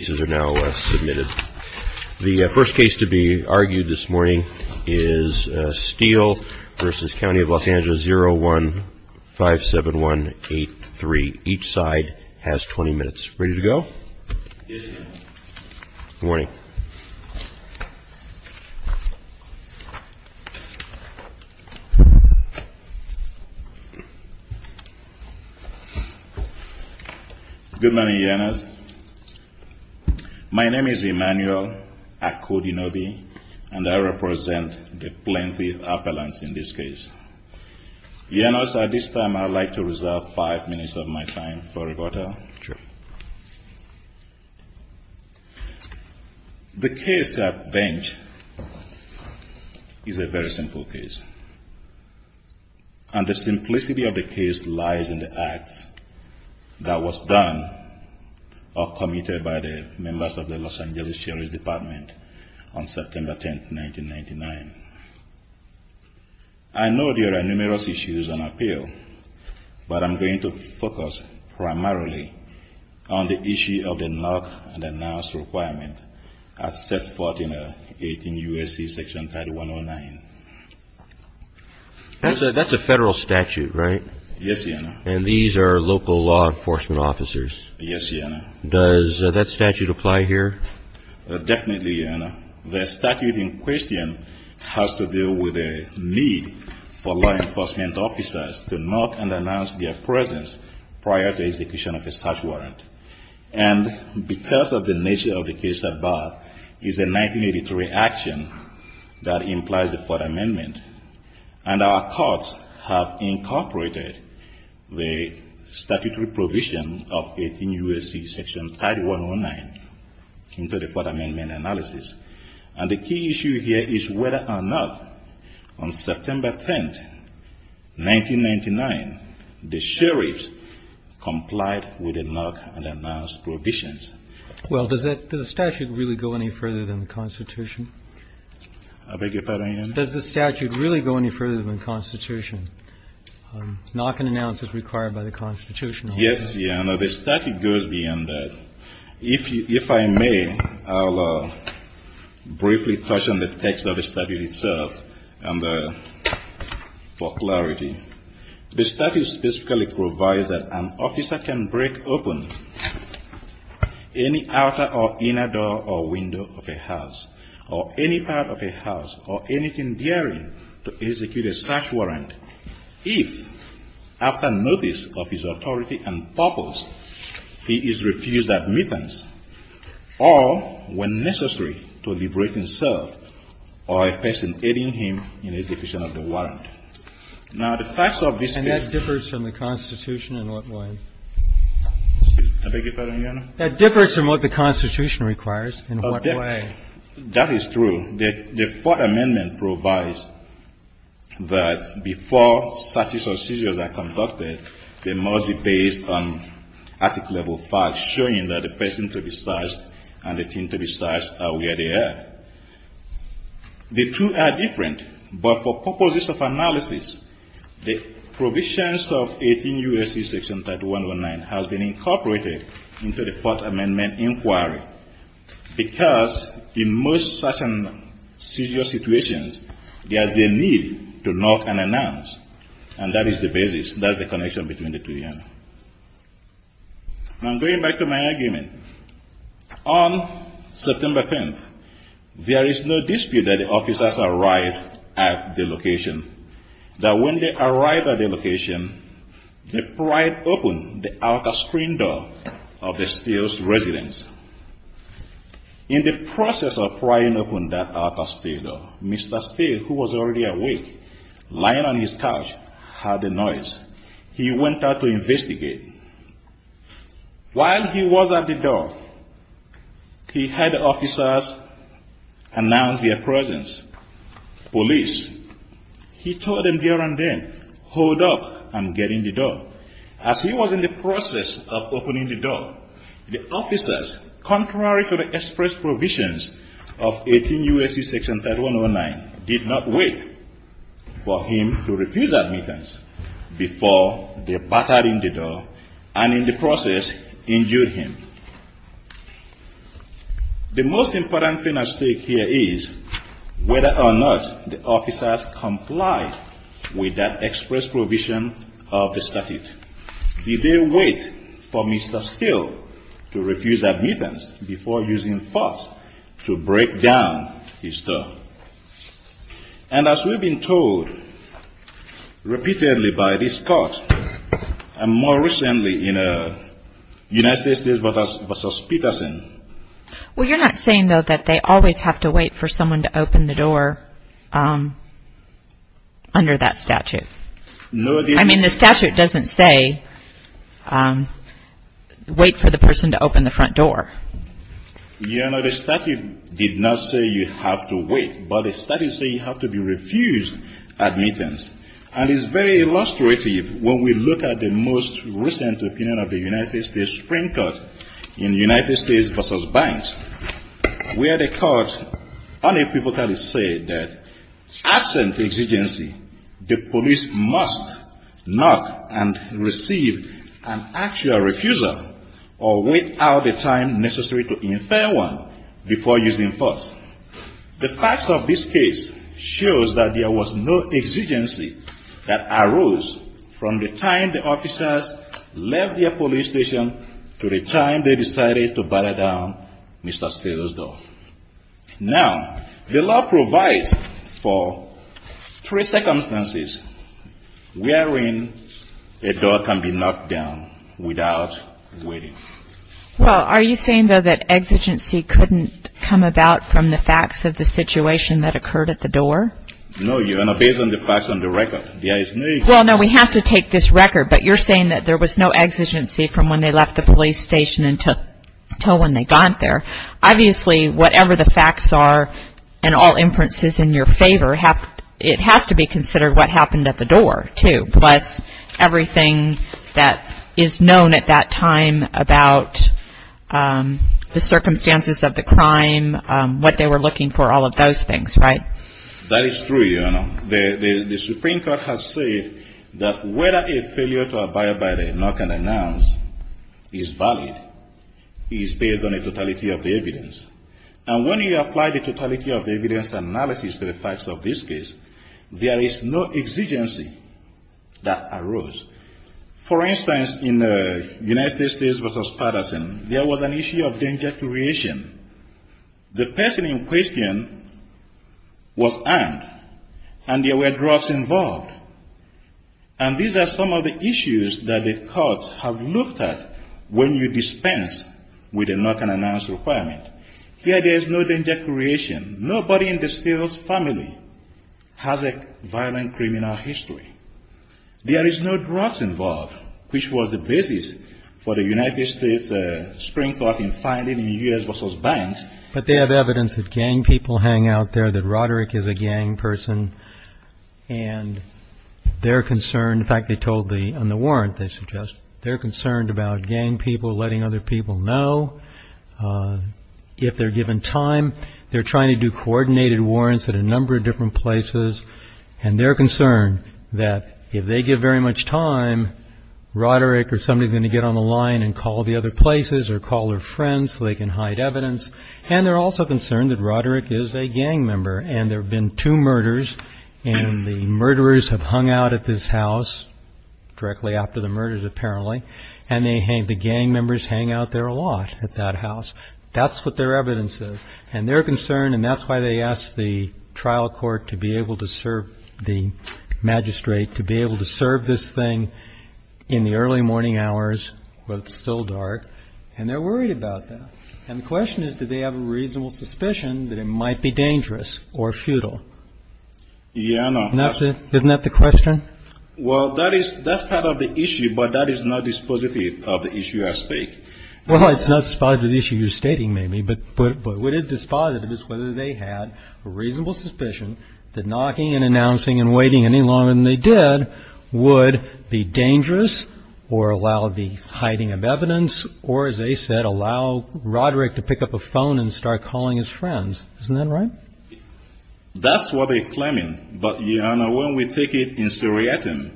0157183. Each side has 20 minutes. Ready to go? Yes, sir. Good morning. Good morning, Yanis. Good morning. My name is Emmanuel Akudinobi, and I represent the Plaintiff Appellants in this case. Yanis, at this time I would like to reserve five minutes of my time for rebuttal. Sure. The case at bench is a very simple case. And the simplicity of the case lies in the acts that was done or committed by the members of the Los Angeles Sheriff's Department on September 10, 1999. I know there are numerous issues on appeal, but I'm going to focus primarily on the issue of the knock-and-announce requirement as set forth in U.S.C. Section 30109. That's a federal statute, right? Yes, Yanis. And these are local law enforcement officers? Yes, Yanis. Does that statute apply here? Definitely, Yanis. The statute in question has to do with a need for law enforcement officers to knock-and-announce their presence prior to execution of a search warrant. And because of the nature of the case at bar, it's a 1983 action that implies the Fourth Amendment. And our courts have incorporated the statutory provision of 18 U.S.C. Section 30109. And the key issue here is whether or not on September 10, 1999, the sheriffs complied with the knock-and-announce provisions. Well, does the statute really go any further than the Constitution? I beg your pardon, Yanis? Does the statute really go any further than the Constitution? Knock-and-announce is required by the Constitution. I'll briefly touch on the text of the statute itself for clarity. The statute specifically provides that an officer can break open any outer or inner door or window of a house, or any part of a house, or anything nearing to execute a search warrant, if, after notice of his authority and purpose, he is refused admittance, or if he is found guilty. Now, the facts of this case are that the statute provides that an officer can break open any outer or inner door or window of a house, or any part of a house, or anything nearing to execute a search warrant, if, after notice of his authority and purpose, he is refused admittance, or if he is found guilty. And that differs from the Constitution in what way? I beg your pardon, Yanis? That differs from what the Constitution requires in what way. That is true. The Fourth Amendment provides that before searches or seizures are conducted, they must be based on article-level facts, showing that the person to be searched and the thing to be searched are where they are. The two are different, but for purposes of analysis, the provisions of 18 U.S.C. Section 3109 has been incorporated into the Fourth Amendment inquiry, because in most such an inquiry, the person to be searched and the thing to be searched are where they are. And that is the basis. That is the connection between the two, Yanis. Now, I'm going back to my argument. On September 10th, there is no dispute that the officers arrived at the location, that when they arrived at the location, they pried open the outer screen door of the steel's residence. In the process of prying open that outer steel door, Mr. Steele, who was already awake, lying on his couch, heard the noise. He went out to investigate. While he was at the door, he had officers announce their presence. Police. He told them there and then, hold up, I'm getting the door. As he was in the process of opening the door, the officers, contrary to the express provisions of 18 U.S.C. Section 3109, did not wait for him to refuse admittance before they battered in the door and, in the process, injured him. The most important thing at stake here is whether or not the officers complied with that express provision of the statute. Did they wait for Mr. Steele to refuse admittance before using force to break down his door? And as we've been told repeatedly by this Court, and more recently in a United States State Voter's Association hearing, the statute does not say you have to wait for the person to open the front door. The statute does not say you have to wait for the person to open the front door. The statute did not say you have to wait, but it does say you have to refuse admittance. And it's very illustrative when we look at the most recent opinion of the United States Supreme Court. In United States v. Banks, where the court unequivocally said that absent exigency, the police must knock and receive an actual refusal or wait out the time necessary to infer one before using force. The facts of this case shows that there was no exigency that arose from the time the officers left their police station to the time they decided to open the front door. They decided to batter down Mr. Steele's door. Now, the law provides for three circumstances wherein a door can be knocked down without waiting. Well, are you saying, though, that exigency couldn't come about from the facts of the situation that occurred at the door? No, Your Honor, based on the facts on the record. Well, no, we have to take this record, but you're saying that there was no exigency from when they left the police station until when they got there. Obviously, whatever the facts are and all inferences in your favor, it has to be considered what happened at the door, too, plus everything that is known at that time about the circumstances of the crime, what they were looking for, all of those things, right? That is true, Your Honor. The Supreme Court has said that whether a failure to abide by the knock-and-announce is valid is based on the totality of the evidence. And when you apply the totality of the evidence analysis to the facts of this case, there is no exigency that arose. For instance, in the United States v. Patterson, there was an issue of danger to reaction. The person in question was armed, and there were drugs involved. And these are some of the issues that the courts have looked at when you dispense with a knock-and-announce requirement. Here, there is no danger creation. Nobody in the Steeles family has a violent criminal history. There is no drugs involved, which was the basis for the United States Supreme Court in finding in U.S. v. Banks. But they have evidence that gang people hang out there, that Roderick is a gang person, and they're concerned. In fact, they told me on the warrant, they suggest, they're concerned about gang people letting other people know. If they're given time, they're trying to do coordinated warrants at a number of different places, and they're concerned that if they give very much time, Roderick or somebody is going to get on the line and call the other places or call their friends so they can hide evidence. And they're also concerned that Roderick is a gang member, and there have been two murders, and the murderers have hung out at this house, directly after the murders, apparently, and the gang members hang out there a lot at that house. That's what their evidence is, and they're concerned, and that's why they asked the trial court to be able to serve the magistrate, to be able to serve this thing in the early morning hours, when it's still dark, and they're worried about that. And the question is, do they have a reasonable suspicion that it might be dangerous or futile? Isn't that the question? Well, that's part of the issue, but that is not dispositive of the issue at stake. Well, it's not a dispositive issue you're stating, maybe, but what is dispositive is whether they had a reasonable suspicion that knocking and announcing and waiting any longer than they did would be dangerous or allow the hiding of evidence or, as they said, allow Roderick to pick up a phone and start calling his friends. Isn't that right? That's what they're claiming, but, Your Honor, when we take it in seriatim,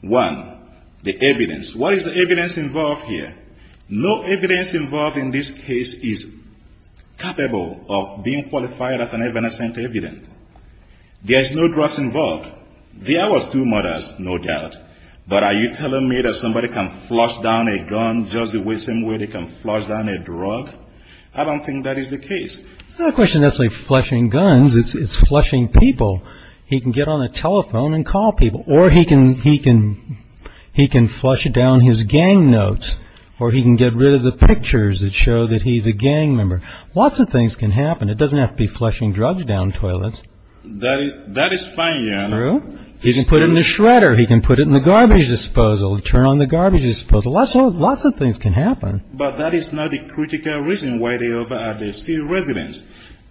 one, the evidence, what is the evidence involved here? No evidence involved in this case is capable of being qualified as an evanescent evidence. There's no drugs involved. There was two murders, no doubt, but are you telling me that somebody can flush down a gun just the same way they can flush down a drug? I don't think that is the case. It's not a question of flushing guns. It's flushing people. He can get on a telephone and call people, or he can flush down his gang notes, or he can get rid of the pictures that show that he's a gang member. Lots of things can happen. It doesn't have to be flushing drugs down toilets. That is fine, Your Honor. True. He can put it in the shredder. He can put it in the garbage disposal, turn on the garbage disposal. Lots of things can happen. But that is not a critical reason why they over at the steel residence.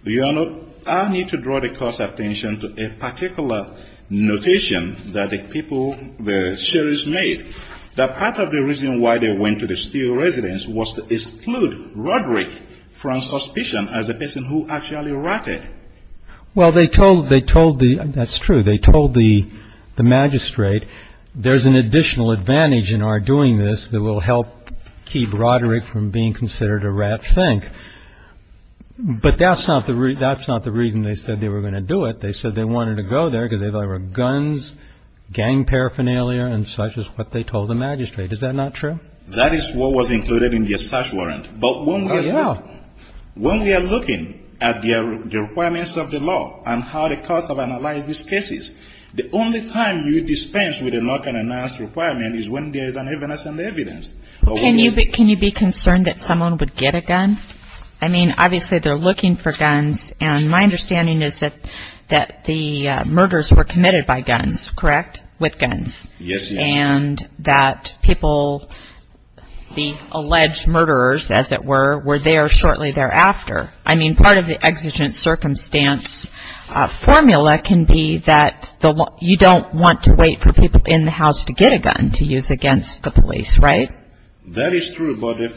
Your Honor, I need to draw the court's attention to a particular notation that the people, the sheriffs made, that part of the reason why they went to the steel residence was to exclude Roderick from suspicion as a person who actually ratted. That's true. They told the magistrate, there's an additional advantage in our doing this that will help keep Roderick from being considered a rat fink. But that's not the reason they said they were going to do it. They said they wanted to go there because they thought there were guns, gang paraphernalia, and such is what they told the magistrate. Is that not true? That is what was included in the search warrant. When we are looking at the requirements of the law and how the courts have analyzed these cases, the only time you dispense with a lock and unmask requirement is when there is an evidence. Can you be concerned that someone would get a gun? I mean, obviously they're looking for guns, and my understanding is that the murders were committed by guns, correct? With guns. And that people, the alleged murderers, as it were, were there shortly thereafter. I mean, part of the exigent circumstance formula can be that you don't want to wait for people in the house to get a gun to use against the police, right? Allegedly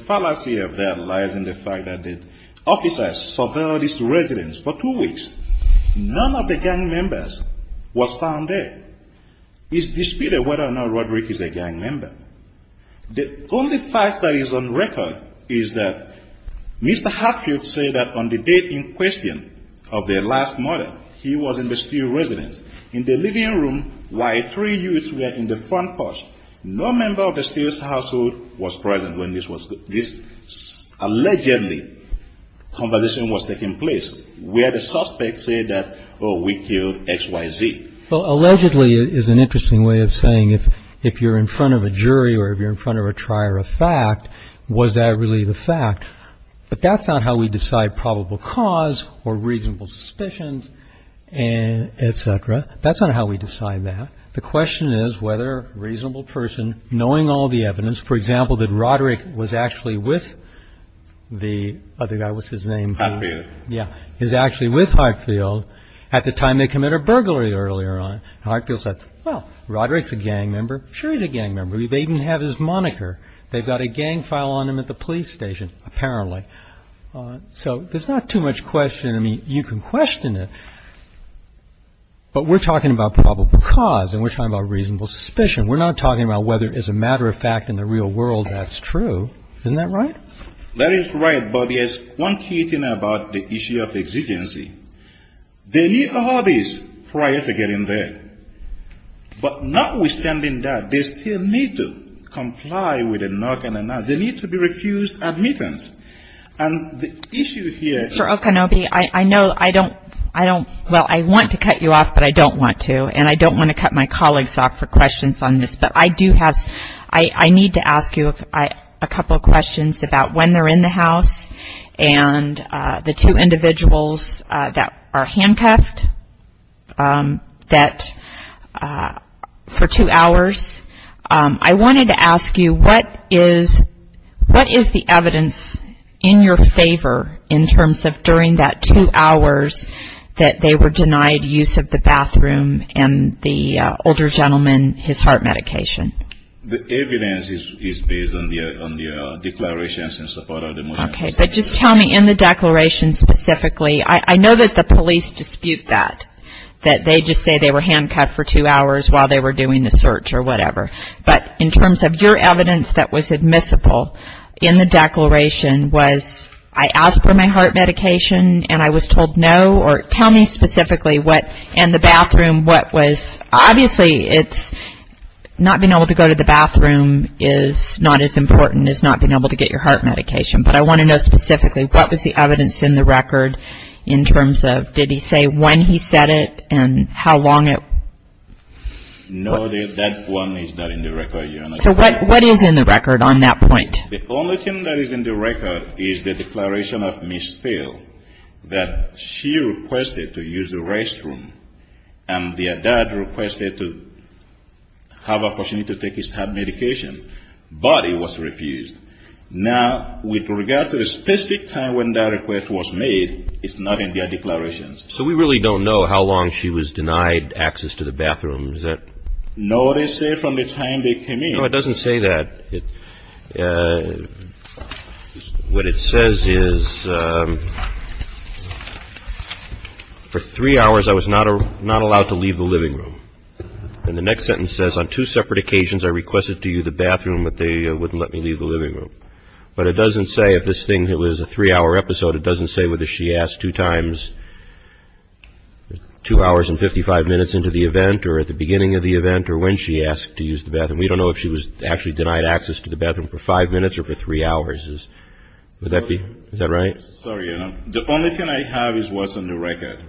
is an interesting way of saying if you're in front of a jury or if you're in front of a trier of fact, was that really the fact? But that's not how we decide probable cause or reasonable suspicions, et cetera. That's not how we decide that. The question is whether a reasonable person knowing all the evidence, for example, that Roderick was actually with the other guy. What's his name? Yeah, he's actually with Hartfield at the time they commit a burglary earlier on. Hartfield said, well, Roderick's a gang member. Sure he's a gang member. They even have his moniker. They've got a gang file on him at the police station, apparently. So there's not too much question. I mean, you can question it, but we're talking about probable cause and we're talking about reasonable suspicion. We're not talking about whether as a matter of fact in the real world that's true. Isn't that right? That is right, but there's one key thing about the issue of exigency. They need a hobby prior to getting there. But notwithstanding that, they still need to comply with a knock and a knock. They need to be refused admittance. I want to cut you off, but I don't want to. And I don't want to cut my colleagues off for questions on this. But I need to ask you a couple of questions about when they're in the house and the two individuals that are handcuffed for two hours. I wanted to ask you, what is the evidence in your favor in terms of during that two hours that they were denied use of the bathroom and the older gentleman, his heart medication? The evidence is based on the declarations in support of the motion. Okay, but just tell me in the declaration specifically. I know that the police dispute that, that they just say they were handcuffed for two hours while they were doing the search or whatever. But in terms of your evidence that was admissible in the declaration was, I asked for my heart medication and I was told no, or tell me specifically what in the bathroom what was. Obviously, not being able to go to the bathroom is not as important as not being able to get your heart medication. But I want to know specifically, what was the evidence in the record in terms of, did he say when he said it and how long it? No, that one is not in the record, Your Honor. So what is in the record on that point? The only thing that is in the record is the declaration of Ms. Phil that she requested to use the restroom and their dad requested to have an opportunity to take his heart medication, but he was refused. Now, with regards to the specific time when that request was made, it's not in their declarations. So we really don't know how long she was denied access to the bathroom? No, it doesn't say that. What it says is, for three hours I was not allowed to leave the living room. And the next sentence says, on two separate occasions I requested to use the bathroom, but they wouldn't let me leave the living room. But it doesn't say if this thing was a three-hour episode. It doesn't say whether she asked two hours and 55 minutes into the event or at the beginning of the event or when she asked to use the bathroom. We don't know if she was actually denied access to the bathroom for five minutes or for three hours. Is that right? Sorry, Your Honor. The only thing I have is what's on the record,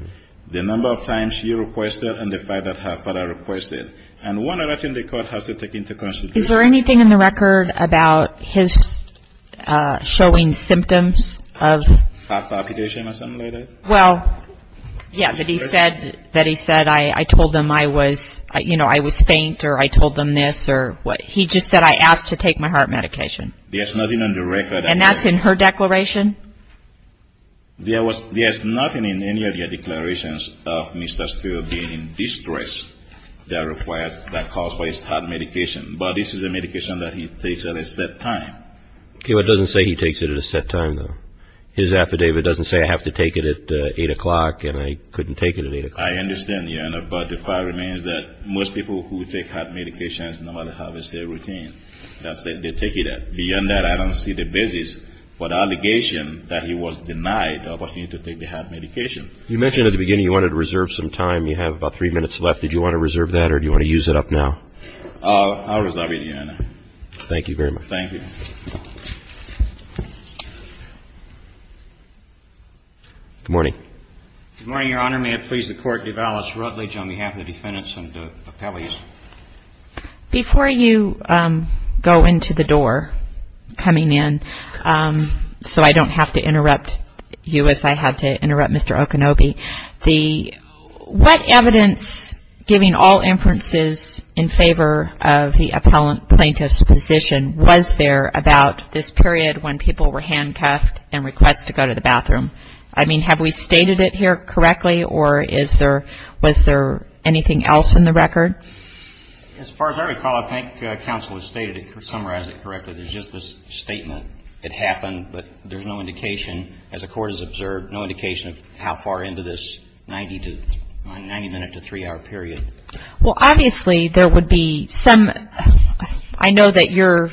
the number of times she requested and the fact that her father requested. And one other thing the court has to take into consideration. Is there anything in the record about his showing symptoms of heart palpitation or something like that? Well, yeah, that he said I told them I was faint or I told them this. He just said I asked to take my heart medication. And that's in her declaration? There's nothing in any of your declarations of Mr. Steele being in distress that calls for his heart medication. But this is a medication that he takes at a set time. Okay, but it doesn't say he takes it at a set time, though. His affidavit doesn't say I have to take it at 8 o'clock and I couldn't take it at 8 o'clock. I understand, Your Honor, but the fact remains that most people who take heart medications normally have a set routine. That's it, they take it at. Beyond that, I don't see the basis for the allegation that he was denied the opportunity to take the heart medication. You mentioned at the beginning you wanted to reserve some time. You have about three minutes left. Did you want to reserve that or do you want to use it up now? I'll reserve it at the end. Thank you very much. Good morning. Good morning, Your Honor. Before you go into the door coming in, so I don't have to interrupt you as I had to interrupt Mr. Okonobe, what evidence, giving all inferences in favor of the plaintiff's position, was there about this period when people were handcuffed and request to go to the bathroom? I mean, have we stated it here correctly or was there anything else in the record? As far as I recall, I think counsel has summarized it correctly. There's just this statement. It happened, but there's no indication, as the court has observed, no indication of how far into this 90-minute to three-hour period. Well, obviously, there would be some. I know that your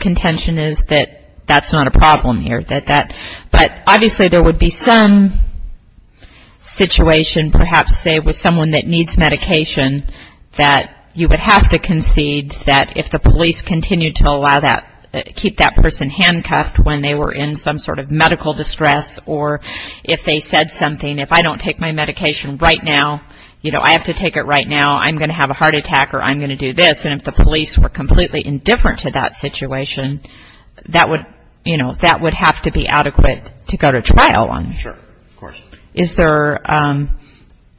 contention is that that's not a problem here, but obviously there would be some situation perhaps, say, with someone that needs medication that you would have to concede that if the police continue to allow that, keep that person handcuffed when they were in some sort of medical distress or if they said something, if I don't take my medication right now, you know, I have to take it right now, I'm going to have a heart attack or I'm going to do this, and if the police were completely indifferent to that situation, that would have to be adequate to go to trial on. Sure, of course.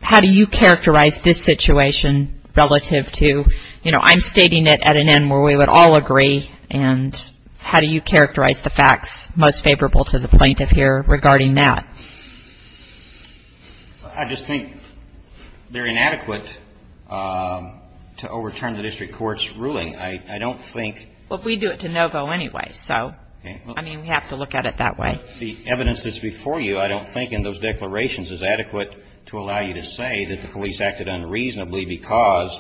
How do you characterize this situation relative to, you know, I'm stating it at an end where we would all agree, and how do you characterize the facts most favorable to the plaintiff here regarding that? I just think they're inadequate to overturn the district court's ruling. I don't think... Well, we do it to no-go anyway, so, I mean, we have to look at it that way. The evidence that's before you, I don't think in those declarations, is adequate to allow you to say that the police acted unreasonably because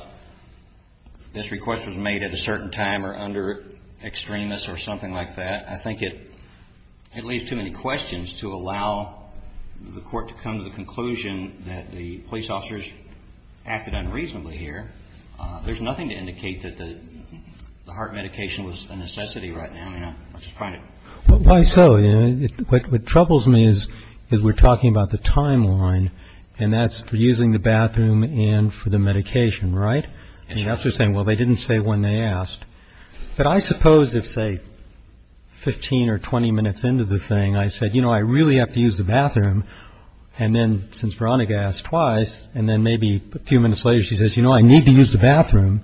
this request was made at a certain time or under extremis or something like that. I think it leaves too many questions to allow the court to come to the conclusion that the police officers acted unreasonably here. There's nothing to indicate that the heart medication was a necessity right now. Why so? You know, what troubles me is we're talking about the timeline, and that's for using the bathroom and for the medication, right? And you have to say, well, they didn't say when they asked. But I suppose if, say, 15 or 20 minutes into the thing, I said, you know, I really have to use the bathroom. And then since Veronica asked twice and then maybe a few minutes later, she says, you know, I need to use the bathroom.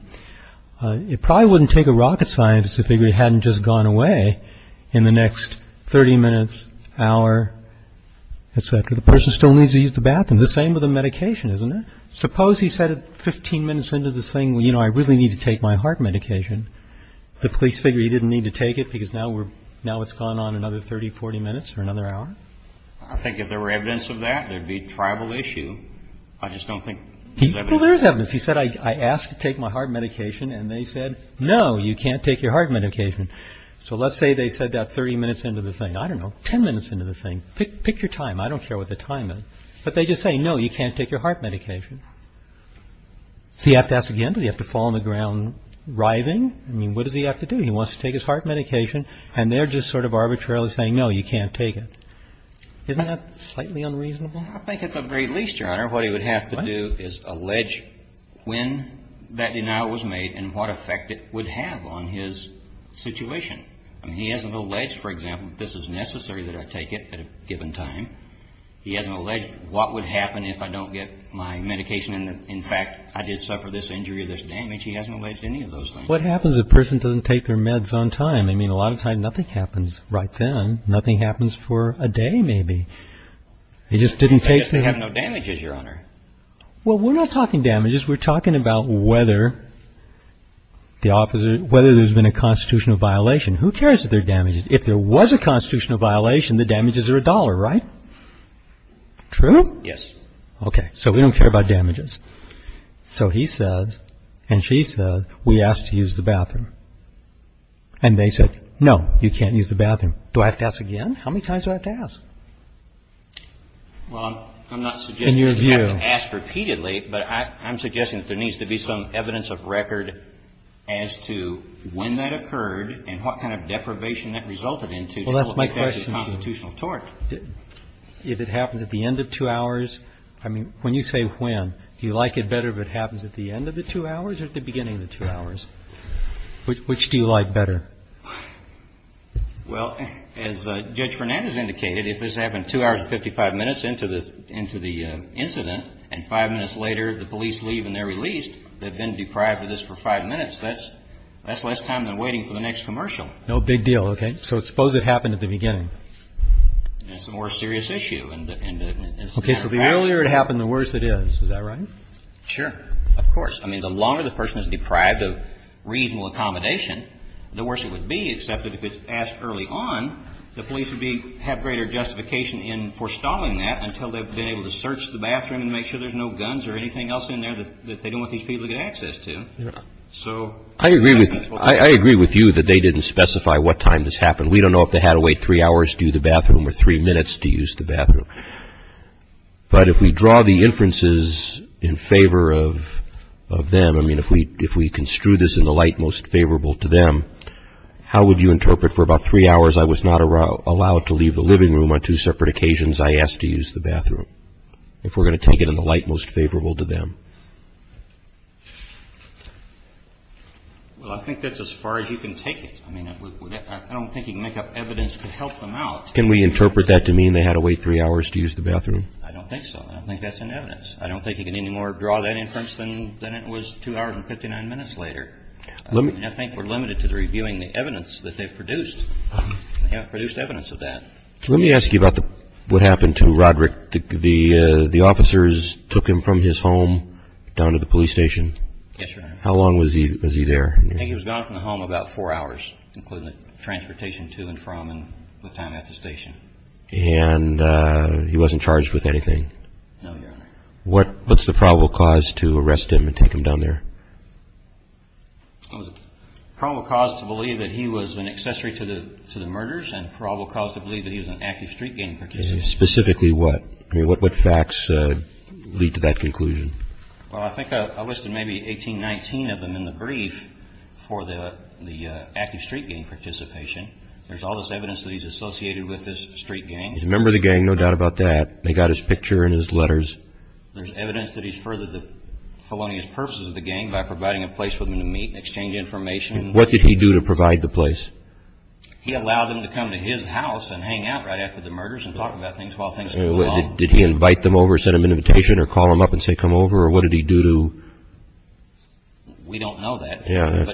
It probably wouldn't take a rocket scientist to figure it hadn't just gone away in the next 30 minutes, hour, et cetera. The person still needs to use the bathroom. The same with the medication, isn't it? Suppose he said 15 minutes into this thing, you know, I really need to take my heart medication. The police figure he didn't need to take it because now it's gone on another 30, 40 minutes or another hour. I think if there were evidence of that, there'd be tribal issue. I just don't think there's evidence. He said, I asked to take my heart medication and they said, no, you can't take your heart medication. So let's say they said that 30 minutes into the thing. I don't know, 10 minutes into the thing. Pick your time. I don't care what the time is. But they just say, no, you can't take your heart medication. So you have to ask again. Do you have to fall on the ground writhing? I mean, what does he have to do? He wants to take his heart medication and they're just sort of arbitrarily saying, no, you can't take it. Isn't that slightly unreasonable? Well, I think at the very least, Your Honor, what he would have to do is allege when that denial was made and what effect it would have on his situation. I mean, he hasn't alleged, for example, that this is necessary that I take it at a given time. He hasn't alleged what would happen if I don't get my medication and, in fact, I did suffer this injury or this damage. He hasn't alleged any of those things. What happens if a person doesn't take their meds on time? I mean, a lot of times nothing happens right then. Nothing happens for a day maybe. I guess they have no damages, Your Honor. Well, we're not talking damages. We're talking about whether there's been a constitutional violation. Who cares if there are damages? If there was a constitutional violation, the damages are a dollar, right? True? Yes. Okay. So we don't care about damages. So he says and she says, we asked to use the bathroom. And they said, no, you can't use the bathroom. Do I have to ask again? How many times do I have to ask? Well, I'm not suggesting you have to ask repeatedly. But I'm suggesting that there needs to be some evidence of record as to when that occurred and what kind of deprivation that resulted into. Well, that's my question. If it happens at the end of two hours. I mean, when you say when, do you like it better if it happens at the end of the two hours or at the beginning of the two hours? Which do you like better? Well, as Judge Fernandez indicated, if this happened two hours and 55 minutes into the incident and five minutes later the police leave and they're released, they've been deprived of this for five minutes, that's less time than waiting for the next commercial. No big deal. Okay. So suppose it happened at the beginning. It's a more serious issue. Okay. So the earlier it happened, the worse it is. Is that right? Sure. Of course. I mean, the longer the person is deprived of reasonable accommodation, the worse it would be, except if it's asked early on, the police would have greater justification in forestalling that until they've been able to search the bathroom and make sure there's no guns or anything else in there that they don't want these people to get access to. Yeah. I agree with you that they didn't specify what time this happened. We don't know if they had to wait three hours to use the bathroom or three minutes to use the bathroom. But if we draw the inferences in favor of them, I mean, if we construe this in the light most favorable to them, how would you interpret for about three hours I was not allowed to leave the living room on two separate occasions, I asked to use the bathroom, if we're going to take it in the light most favorable to them? Well, I think that's as far as you can take it. I mean, I don't think you can make up evidence to help them out. Can we interpret that to mean they had to wait three hours to use the bathroom? I don't think so. I don't think that's an evidence. I don't think you can anymore draw that inference than it was two hours and 59 minutes later. I think we're limited to reviewing the evidence that they've produced. They haven't produced evidence of that. Let me ask you about what happened to Roderick. The officers took him from his home down to the police station. Yes, Your Honor. How long was he there? I think he was gone from the home about four hours, including transportation to and from and the time at the station. And he wasn't charged with anything? No, Your Honor. What's the probable cause to arrest him and take him down there? Probable cause to believe that he was an accessory to the murders and probable cause to believe that he was an active street gang participant. Specifically what? I mean, what facts lead to that conclusion? Well, I think I listed maybe 18, 19 of them in the brief for the active street gang participation. There's all this evidence that he's associated with this street gang. He's a member of the gang, no doubt about that. They got his picture and his letters. There's evidence that he's furthered the felonious purposes of the gang by providing a place for them to meet and exchange information. What did he do to provide the place? He allowed them to come to his house and hang out right after the murders and talk about things while things were going on. Did he invite them over, send them an invitation, or call them up and say, come over, or what did he do to... We don't know that.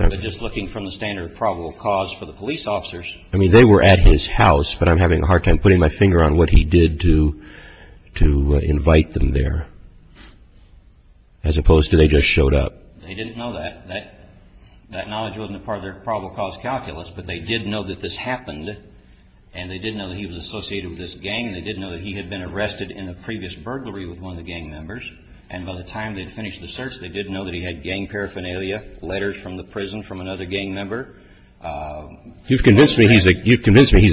But just looking from the standard of probable cause for the police officers... I mean, they were at his house, but I'm having a hard time putting my finger on what he did to invite them there, as opposed to they just showed up. They didn't know that. That knowledge wasn't a part of their probable cause calculus, but they did know that this happened and they did know that he was associated with this gang and they did know that he had been arrested in a previous burglary with one of the gang members. And by the time they'd finished the search, they did know that he had gang paraphernalia, letters from the prison from another gang member. You've convinced me he's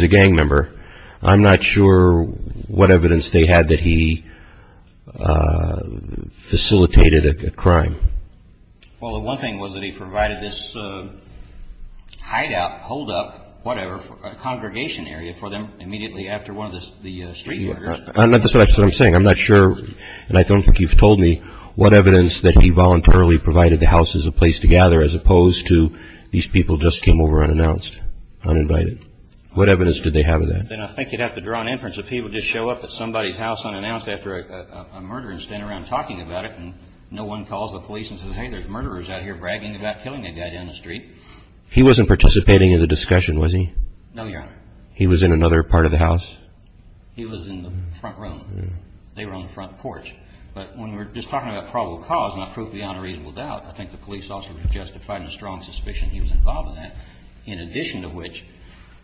a gang member. I'm not sure what evidence they had that he facilitated a crime. Well, the one thing was that he provided this hideout, holdup, whatever, a congregation area for them immediately after one of the street murders. That's what I'm saying. I'm not sure, and I don't think you've told me, what evidence that he voluntarily provided the house as a place to gather, as opposed to these people just came over unannounced, uninvited. What evidence did they have of that? Then I think you'd have to draw an inference that people just show up at somebody's house unannounced after a murder and stand around talking about it and no one calls the police and says, hey, there's murderers out here bragging about killing a guy down the street. He wasn't participating in the discussion, was he? No, Your Honor. He was in another part of the house? He was in the front room. They were on the front porch. But when we're just talking about probable cause, not proof beyond a reasonable doubt, I think the police also justified the strong suspicion he was involved in that, in addition to which,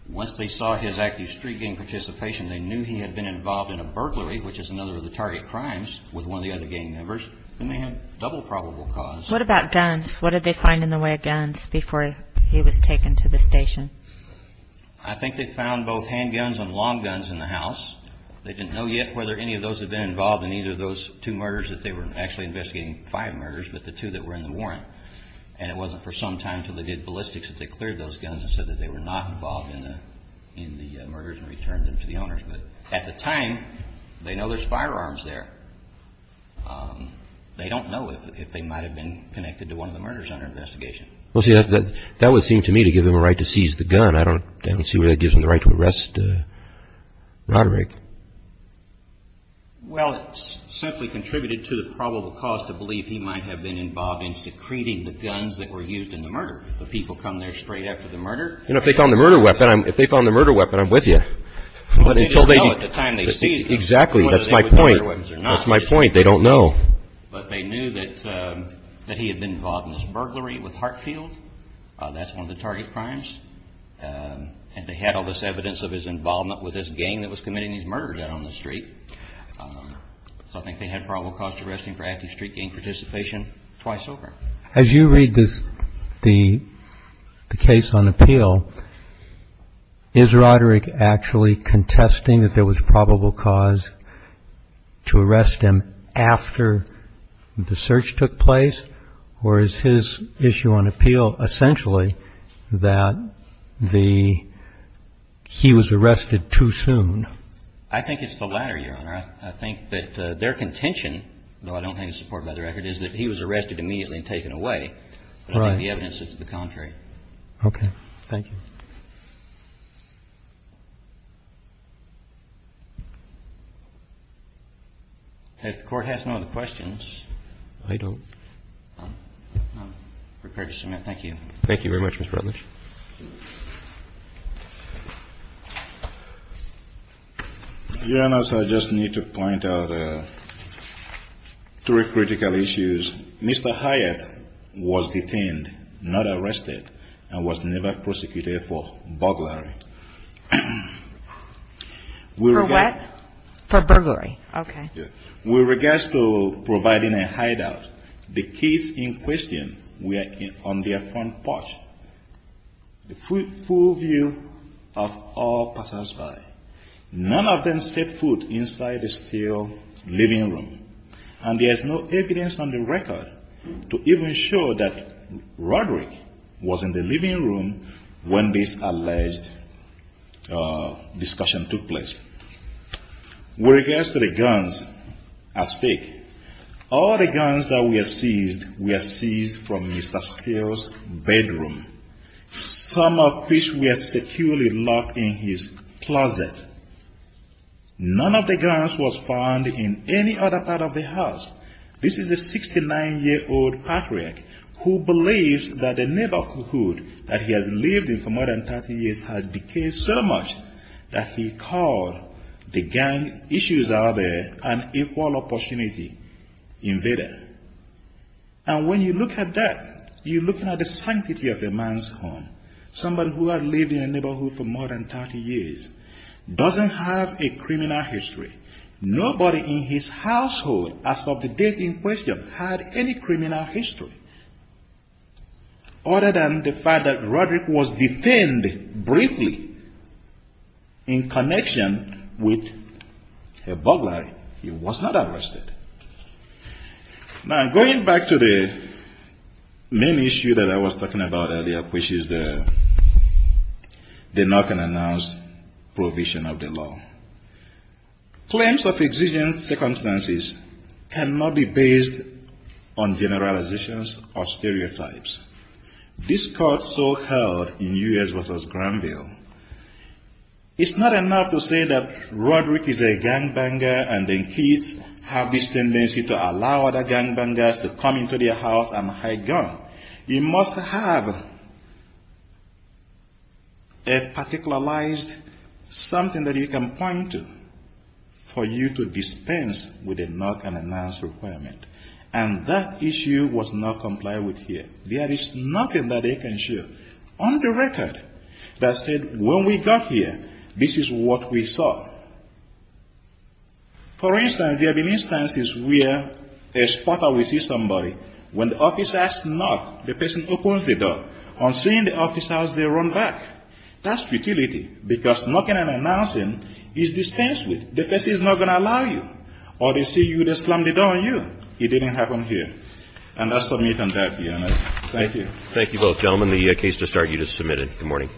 once they saw his active street gang participation, they knew he had been involved in a burglary, which is another of the target crimes with one of the other gang members, and they had double probable cause. What about guns? What did they find in the way of guns before he was taken to the station? I think they found both handguns and long guns in the house. They didn't know yet whether any of those had been involved in either of those two murders that they were actually investigating, five murders, but the two that were in the warrant. And it wasn't for some time until they did ballistics that they cleared those guns and said that they were not involved in the murders and returned them to the owners. But at the time, they know there's firearms there. They don't know if they might have been connected to one of the murders under investigation. Well, see, that would seem to me to give them a right to seize the gun. I don't see where that gives them the right to arrest Roderick. Well, it simply contributed to the probable cause to believe he might have been involved in secreting the guns that were used in the murder. The people come there straight after the murder. You know, if they found the murder weapon, I'm with you. But they didn't know at the time they seized it. Exactly. That's my point. That's my point. They don't know. But they knew that he had been involved in this burglary with Hartfield. That's one of the target crimes. And they had all this evidence of his involvement with this gang that was committing these murders out on the street. So I think they had probable cause to arrest him for active street gang participation twice over. As you read this, the case on appeal, is Roderick actually contesting that there was probable cause to arrest him after the search took place? Or is his issue on appeal essentially that he was arrested too soon? I think it's the latter, Your Honor. I think that their contention, though I don't have any support by the record, is that he was arrested immediately and taken away. Right. But I think the evidence is to the contrary. Okay. Thank you. If the Court has no other questions. I don't. I'm prepared to submit. Thank you. Thank you very much, Mr. Rutledge. Your Honor, so I just need to point out three critical issues. Mr. Hyatt was detained, not arrested, and was never prosecuted for burglary. For what? For burglary. Okay. With regards to providing a hideout, the kids in question were on their front porch. The full view of all passersby. None of them set foot inside the still living room. And there is no evidence on the record to even show that Roderick was in the living room when this alleged discussion took place. With regards to the guns at stake, all the guns that were seized were seized from Mr. Steele's bedroom. Some of which were securely locked in his closet. None of the guns was found in any other part of the house. This is a 69-year-old patriot who believes that the neighborhood that he has lived in for more than 30 years has decayed so much that he called the gang issues out there an equal opportunity invader. And when you look at that, you're looking at the sanctity of a man's home. Somebody who has lived in a neighborhood for more than 30 years doesn't have a criminal history. Nobody in his household as of the date in question had any criminal history. Other than the fact that Roderick was detained briefly in connection with a burglary, he was not arrested. Now, going back to the main issue that I was talking about earlier, which is the knock-and-announce prohibition of the law. Claims of exigent circumstances cannot be based on generalizations or stereotypes. This court so held in U.S. v. Granville, it's not enough to say that Roderick is a gangbanger and the kids have this tendency to allow other gangbangers to come into their house and hide guns. You must have a particularized something that you can point to for you to dispense with a knock-and-announce requirement. And that issue was not complied with here. There is nothing that they can show on the record that said, when we got here, this is what we saw. For instance, there have been instances where a spotter will see somebody. When the officers knock, the person opens the door. On seeing the officers, they run back. That's futility, because knocking and announcing is dispensed with. The case is not going to allow you. Or they see you, they slam the door on you. It didn't happen here. And I submit on that, Your Honor. Thank you. Thank you both, gentlemen. The case to start, you just submitted. Good morning.